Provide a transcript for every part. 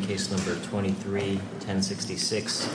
case number twenty three ten sixty six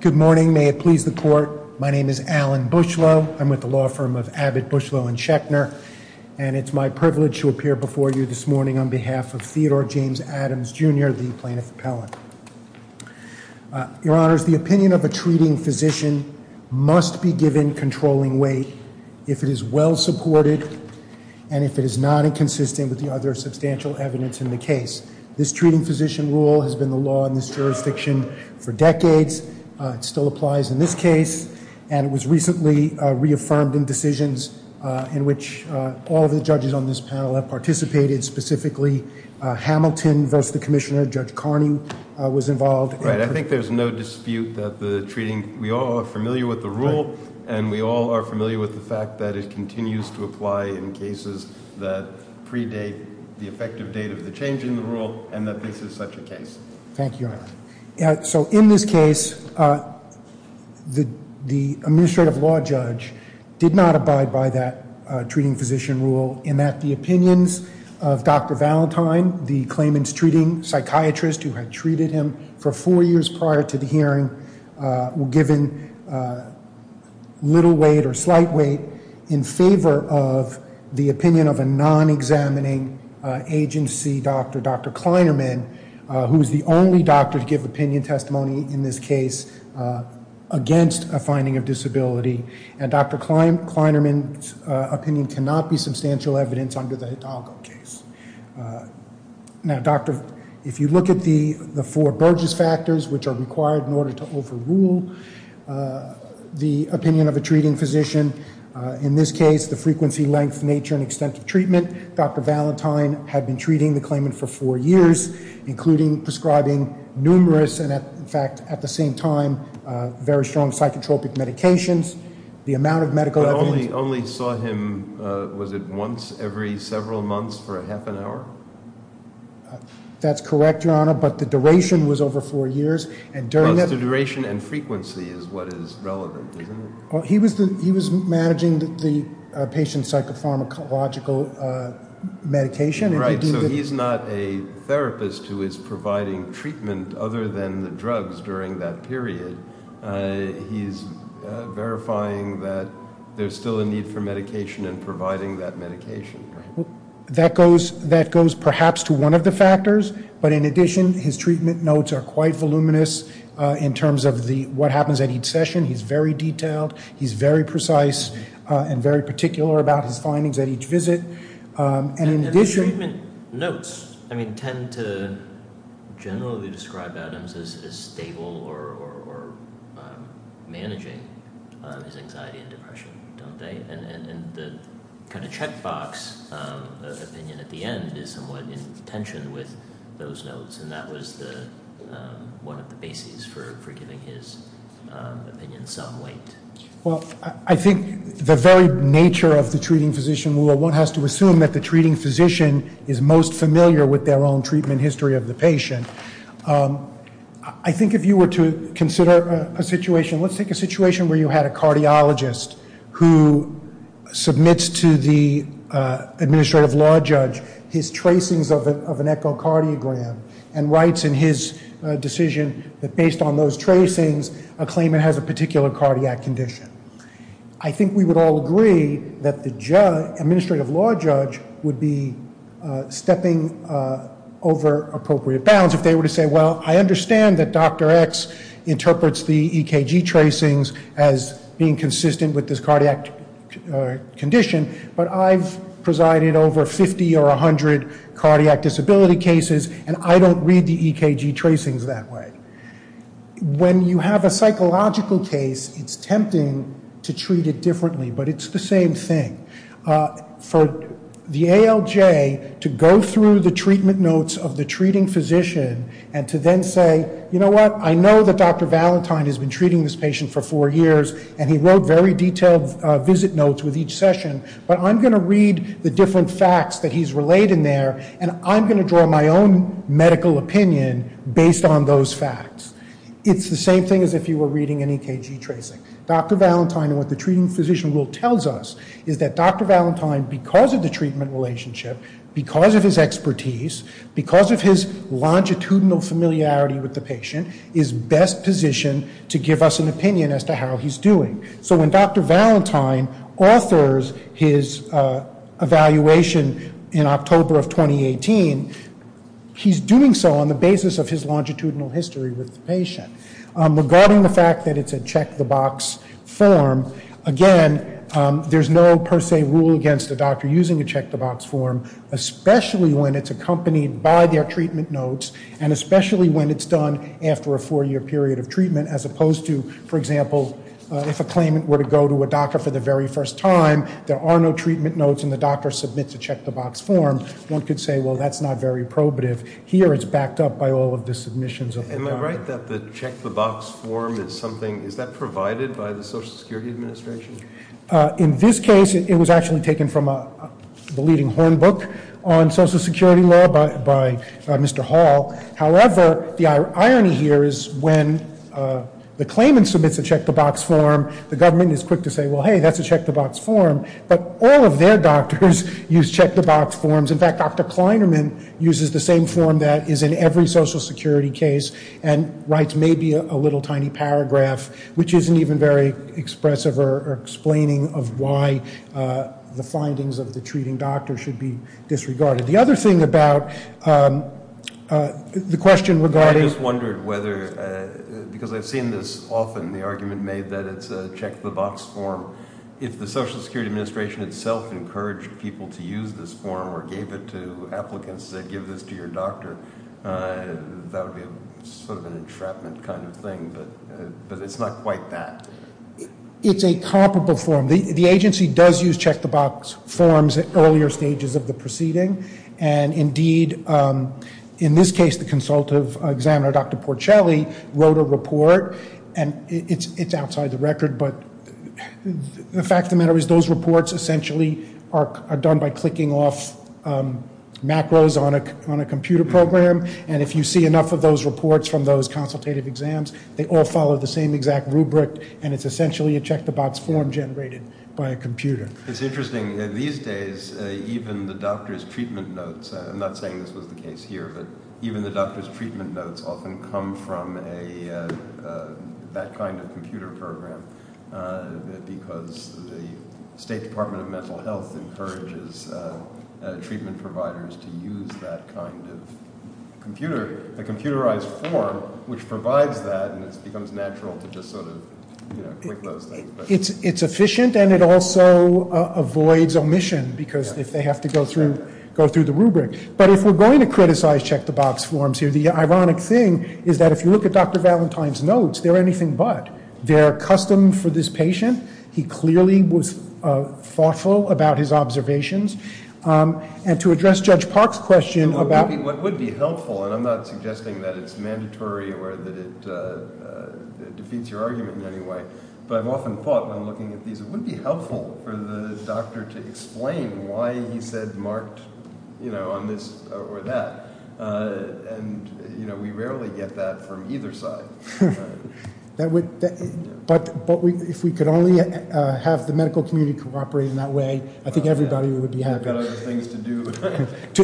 Good morning, may it please the court. My name is Alan Bushlow. I'm with the law firm of Abbott, Bushlow and Schechner, and it's my privilege to appear before you this morning on behalf of Theodore James Adams, Jr., the plaintiff appellant. Your honors, the opinion of a treating physician must be given controlling weight if it is well supported and if it is not inconsistent with the other substantial evidence in the case. This treating physician rule has been the law in this jurisdiction for decades. It still applies in this case, and it was recently reaffirmed in decisions in which all of the judges on this panel have participated. Specifically, Hamilton versus the commissioner, Judge Carney was involved. I think there's no dispute that the treating we all are familiar with the rule, and we all are familiar with the fact that it continues to apply in cases that predate the effective date of the change in the rule and that this is such a case. Thank you. So in this case, the administrative law judge did not abide by that treating physician rule in that the opinions of Dr. Valentine, the claimant's treating psychiatrist who had treated him for four years prior to the hearing, were given little weight or slight weight in favor of the opinion of a non-examining agency doctor, Dr. Kleinerman, who is the only doctor to give opinion testimony in this case against a finding of disability, and Dr. Kleinerman's opinion cannot be substantial evidence under the Hidalgo case. Now, Doctor, if you look at the four Burgess factors, which are required in order to overrule the opinion of a treating physician, in this case, the frequency, length, nature, and extent of treatment, Dr. Valentine had been treating the claimant for four years, including prescribing numerous and, in fact, at the same time, very strong psychotropic medications. But only saw him, was it, once every several months for a half an hour? That's correct, Your Honor, but the duration was over four years. Because the duration and frequency is what is relevant, isn't it? He was managing the patient's psychopharmacological medication. Right, so he's not a therapist who is providing treatment other than the drugs during that period. He's verifying that there's still a need for medication and providing that medication. That goes perhaps to one of the factors, but in addition, his treatment notes are quite voluminous in terms of what happens at each session. He's very detailed. He's very precise and very particular about his findings at each visit. And his treatment notes, I mean, tend to generally describe Adams as stable or managing his anxiety and depression, don't they? And the kind of checkbox opinion at the end is somewhat in tension with those notes, and that was one of the bases for giving his opinion some weight. Well, I think the very nature of the treating physician rule, one has to assume that the treating physician is most familiar with their own treatment history of the patient. I think if you were to consider a situation, let's take a situation where you had a cardiologist who submits to the administrative law judge his tracings of an echocardiogram and writes in his decision that based on those tracings, a claimant has a particular cardiac condition. I think we would all agree that the administrative law judge would be stepping over appropriate bounds if they were to say, well, I understand that Dr. X interprets the EKG tracings as being consistent with this cardiac condition, but I've presided over 50 or 100 cardiac disability cases, and I don't read the EKG tracings that way. When you have a psychological case, it's tempting to treat it differently, but it's the same thing. For the ALJ to go through the treatment notes of the treating physician and to then say, you know what, I know that Dr. Valentine has been treating this patient for four years, and he wrote very detailed visit notes with each session, but I'm going to read the different facts that he's relayed in there, and I'm going to draw my own medical opinion based on those facts. It's the same thing as if you were reading an EKG tracing. Dr. Valentine and what the treating physician rule tells us is that Dr. Valentine, because of the treatment relationship, because of his expertise, because of his longitudinal familiarity with the patient, is best positioned to give us an opinion as to how he's doing. So when Dr. Valentine authors his evaluation in October of 2018, he's doing so on the basis of his longitudinal history with the patient. Regarding the fact that it's a check-the-box form, again, there's no per se rule against a doctor using a check-the-box form, especially when it's accompanied by their treatment notes and especially when it's done after a four-year period of treatment, as opposed to, for example, if a claimant were to go to a doctor for the very first time, there are no treatment notes and the doctor submits a check-the-box form. One could say, well, that's not very probative. Here it's backed up by all of the submissions of the doctor. Am I right that the check-the-box form is something, is that provided by the Social Security Administration? In this case, it was actually taken from the leading horn book on Social Security law by Mr. Hall. However, the irony here is when the claimant submits a check-the-box form, the government is quick to say, well, hey, that's a check-the-box form. But all of their doctors use check-the-box forms. In fact, Dr. Kleinerman uses the same form that is in every Social Security case and writes maybe a little tiny paragraph, which isn't even very expressive or explaining of why the findings of the treating doctor should be disregarded. The other thing about the question regarding- I just wondered whether, because I've seen this often, the argument made that it's a check-the-box form. If the Social Security Administration itself encouraged people to use this form or gave it to applicants that give this to your doctor, that would be sort of an entrapment kind of thing. But it's not quite that. It's a comparable form. The agency does use check-the-box forms at earlier stages of the proceeding. And indeed, in this case, the consultative examiner, Dr. Porcelli, wrote a report. And it's outside the record. But the fact of the matter is those reports essentially are done by clicking off macros on a computer program. And if you see enough of those reports from those consultative exams, they all follow the same exact rubric, and it's essentially a check-the-box form generated by a computer. It's interesting. These days, even the doctor's treatment notes- I'm not saying this was the case here, but even the doctor's treatment notes often come from that kind of computer program because the State Department of Mental Health encourages treatment providers to use that kind of computerized form, which provides that, and it becomes natural to just sort of click those things. It's efficient, and it also avoids omission because if they have to go through the rubric. But if we're going to criticize check-the-box forms here, the ironic thing is that if you look at Dr. Valentine's notes, they're anything but. They're custom for this patient. He clearly was thoughtful about his observations. And to address Judge Park's question about- It would be helpful, and I'm not suggesting that it's mandatory or that it defeats your argument in any way, but I've often thought when I'm looking at these, it would be helpful for the doctor to explain why he said marked on this or that. And we rarely get that from either side. But if we could only have the medical community cooperate in that way, I think everybody would be happy. We've got other things to do.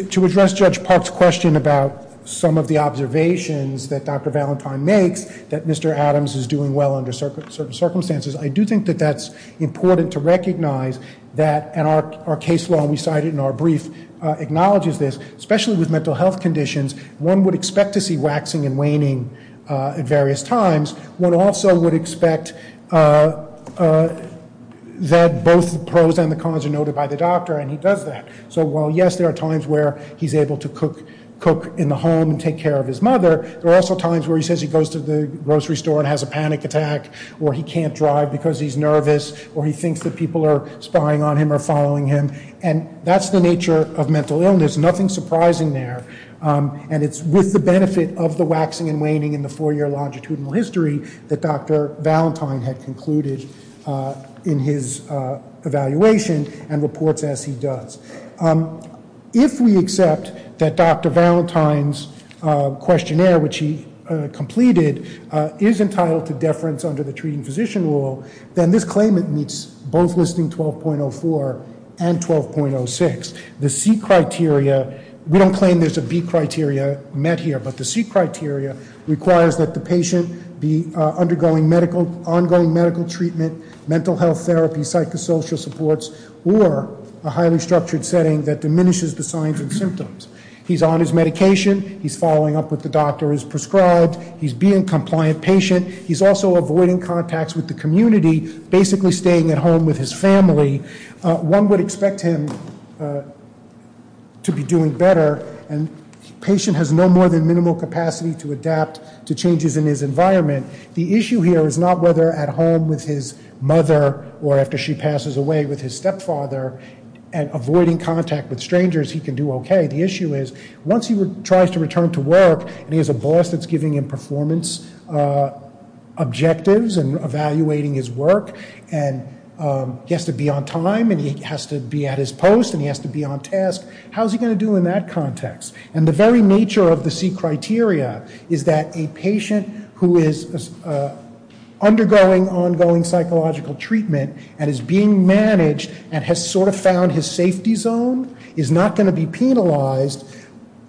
To address Judge Park's question about some of the observations that Dr. Valentine makes, that Mr. Adams is doing well under certain circumstances, I do think that that's important to recognize that our case law, and we cite it in our brief, acknowledges this. Especially with mental health conditions, one would expect to see waxing and waning at various times. One also would expect that both the pros and the cons are noted by the doctor, and he does that. So while, yes, there are times where he's able to cook in the home and take care of his mother, there are also times where he says he goes to the grocery store and has a panic attack, or he can't drive because he's nervous, or he thinks that people are spying on him or following him. And that's the nature of mental illness. Nothing surprising there. And it's with the benefit of the waxing and waning in the four-year longitudinal history that Dr. Valentine had concluded in his evaluation and reports as he does. If we accept that Dr. Valentine's questionnaire, which he completed, is entitled to deference under the treating physician rule, then this claimant meets both Listing 12.04 and 12.06. The C criteria, we don't claim there's a B criteria met here, but the C criteria requires that the patient be undergoing ongoing medical treatment, mental health therapy, psychosocial supports, or a highly structured setting that diminishes the signs and symptoms. He's on his medication. He's following up with the doctor who's prescribed. He's being a compliant patient. He's also avoiding contacts with the community, basically staying at home with his family. One would expect him to be doing better, and the patient has no more than minimal capacity to adapt to changes in his environment. The issue here is not whether at home with his mother or after she passes away with his stepfather and avoiding contact with strangers he can do okay. The issue is once he tries to return to work and he has a boss that's giving him performance objectives and evaluating his work and he has to be on time and he has to be at his post and he has to be on task, how's he going to do in that context? And the very nature of the C criteria is that a patient who is undergoing ongoing psychological treatment and is being managed and has sort of found his safety zone is not going to be penalized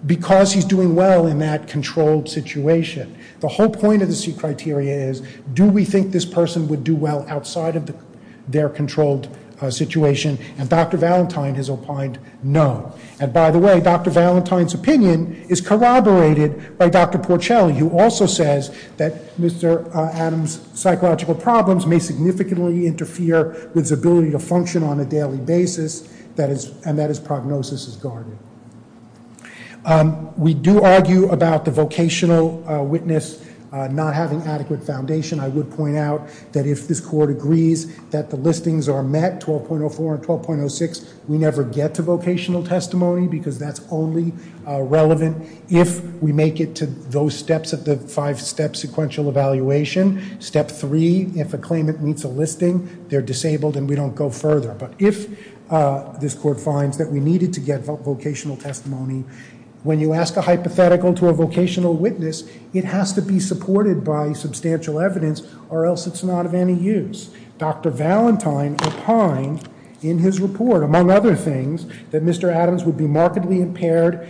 because he's doing well in that controlled situation. The whole point of the C criteria is do we think this person would do well outside of their controlled situation? And Dr. Valentine has opined no. And by the way, Dr. Valentine's opinion is corroborated by Dr. Porcelli who also says that Mr. Adams' psychological problems may significantly interfere with his ability to function on a daily basis and that his prognosis is guarded. We do argue about the vocational witness not having adequate foundation. I would point out that if this court agrees that the listings are met, 12.04 and 12.06, we never get to vocational testimony because that's only relevant if we make it to those steps of the five-step sequential evaluation. Step three, if a claimant meets a listing, they're disabled and we don't go further. But if this court finds that we needed to get vocational testimony, when you ask a hypothetical to a vocational witness, it has to be supported by substantial evidence or else it's not of any use. Dr. Valentine opined in his report, among other things, that Mr. Adams would be markedly impaired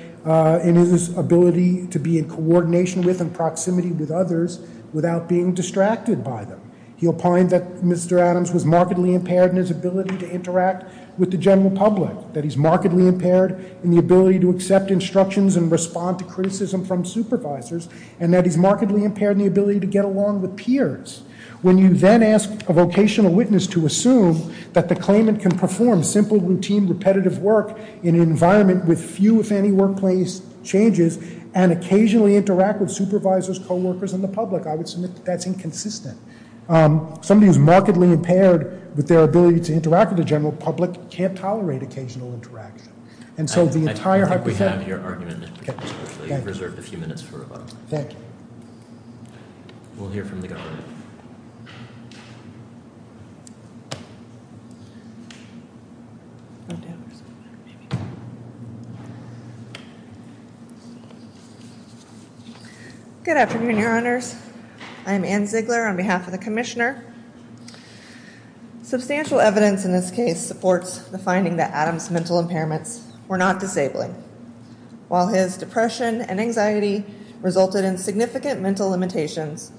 in his ability to be in coordination with and proximity with others without being distracted by them. He opined that Mr. Adams was markedly impaired in his ability to interact with the general public, that he's markedly impaired in the ability to accept instructions and respond to criticism from supervisors, and that he's markedly impaired in the ability to get along with peers. When you then ask a vocational witness to assume that the claimant can perform simple, routine, repetitive work in an environment with few, if any, workplace changes and occasionally interact with supervisors, coworkers, and the public, I would submit that that's inconsistent. Somebody who's markedly impaired with their ability to interact with the general public can't tolerate occasional interaction. And so the entire hypothetical- I think we have your argument in this particular court. Thank you. You're reserved a few minutes for rebuttal. Thank you. We'll hear from the government. Good afternoon, Your Honors. I'm Anne Ziegler on behalf of the commissioner. Substantial evidence in this case supports the finding that Adams' mental impairments were not disabling. While his depression and anxiety resulted in significant mental limitations,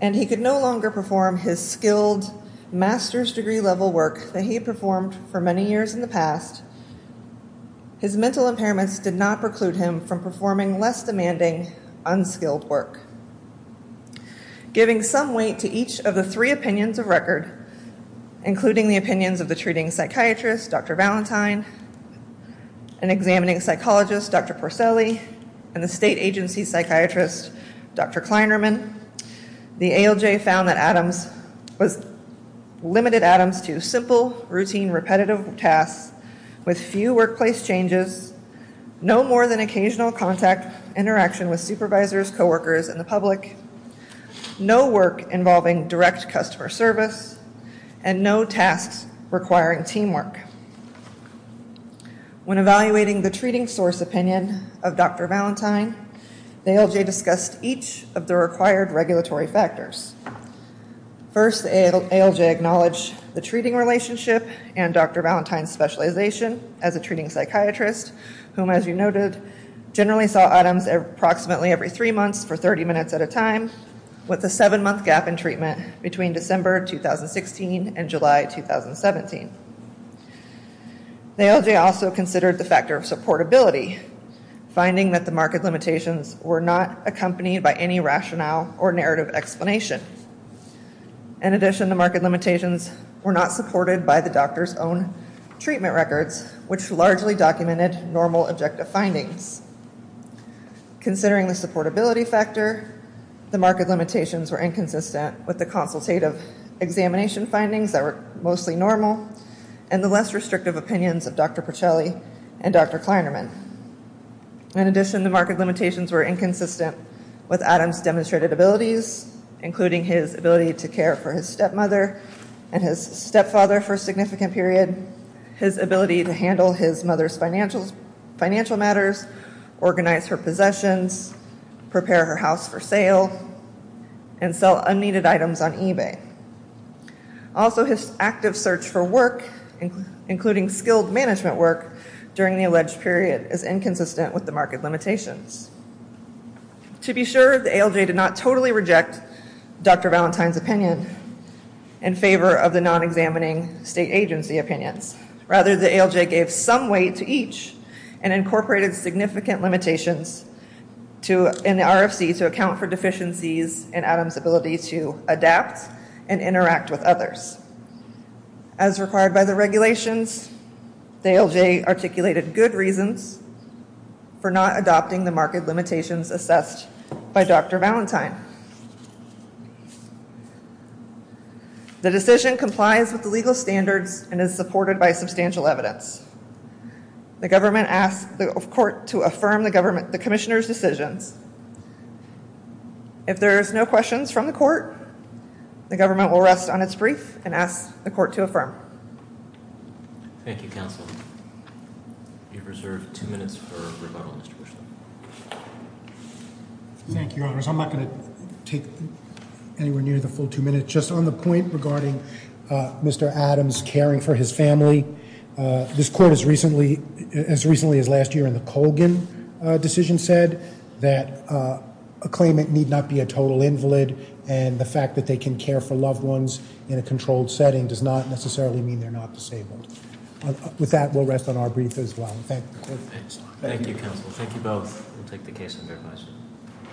and he could no longer perform his skilled master's degree-level work that he had performed for many years in the past, his mental impairments did not preclude him from performing less demanding, unskilled work. Giving some weight to each of the three opinions of record, including the opinions of the treating psychiatrist, Dr. Valentine, and examining psychologist, Dr. Porcelli, and the state agency psychiatrist, Dr. Kleinerman, the ALJ found that Adams was- limited Adams to simple, routine, repetitive tasks with few workplace changes, no more than occasional contact, interaction with supervisors, coworkers, and the public, no work involving direct customer service, and no tasks requiring teamwork. When evaluating the treating source opinion of Dr. Valentine, the ALJ discussed each of the required regulatory factors. First, the ALJ acknowledged the treating relationship and Dr. Valentine's specialization as a treating psychiatrist, whom, as you noted, generally saw Adams approximately every three months for 30 minutes at a time, with a seven-month gap in treatment between December 2016 and July 2017. The ALJ also considered the factor of supportability, finding that the marked limitations were not accompanied by any rationale or narrative explanation. In addition, the marked limitations were not supported by the doctor's own treatment records, which largely documented normal objective findings. Considering the supportability factor, the marked limitations were inconsistent with the consultative examination findings that were mostly normal, and the less restrictive opinions of Dr. Porcelli and Dr. Kleinerman. In addition, the marked limitations were inconsistent with Adams' demonstrated abilities, including his ability to care for his stepmother and his stepfather for a significant period, his ability to handle his mother's financial matters, organize her possessions, prepare her house for sale, and sell unneeded items on eBay. Also, his active search for work, including skilled management work, during the alleged period is inconsistent with the marked limitations. To be sure, the ALJ did not totally reject Dr. Valentine's opinion in favor of the non-examining state agency opinions. Rather, the ALJ gave some weight to each and incorporated significant limitations in the RFC to account for deficiencies in Adams' ability to adapt and interact with others. As required by the regulations, the ALJ articulated good reasons for not adopting the marked limitations assessed by Dr. Valentine. The decision complies with the legal standards and is supported by substantial evidence. The government asked the court to affirm the commissioner's decisions. If there is no questions from the court, the government will rest on its brief and ask the court to affirm. Thank you, counsel. You have reserved two minutes for rebuttal, Mr. Bushnell. Thank you, Your Honors. I'm not going to take anywhere near the full two minutes. Just on the point regarding Mr. Adams' caring for his family, this court has recently, as recently as last year in the Colgan decision, said that a claimant need not be a total invalid, and the fact that they can care for loved ones in a controlled setting does not necessarily mean they're not disabled. With that, we'll rest on our brief as well. Thank you. Thank you, counsel. Thank you both. We'll take the case and verify it.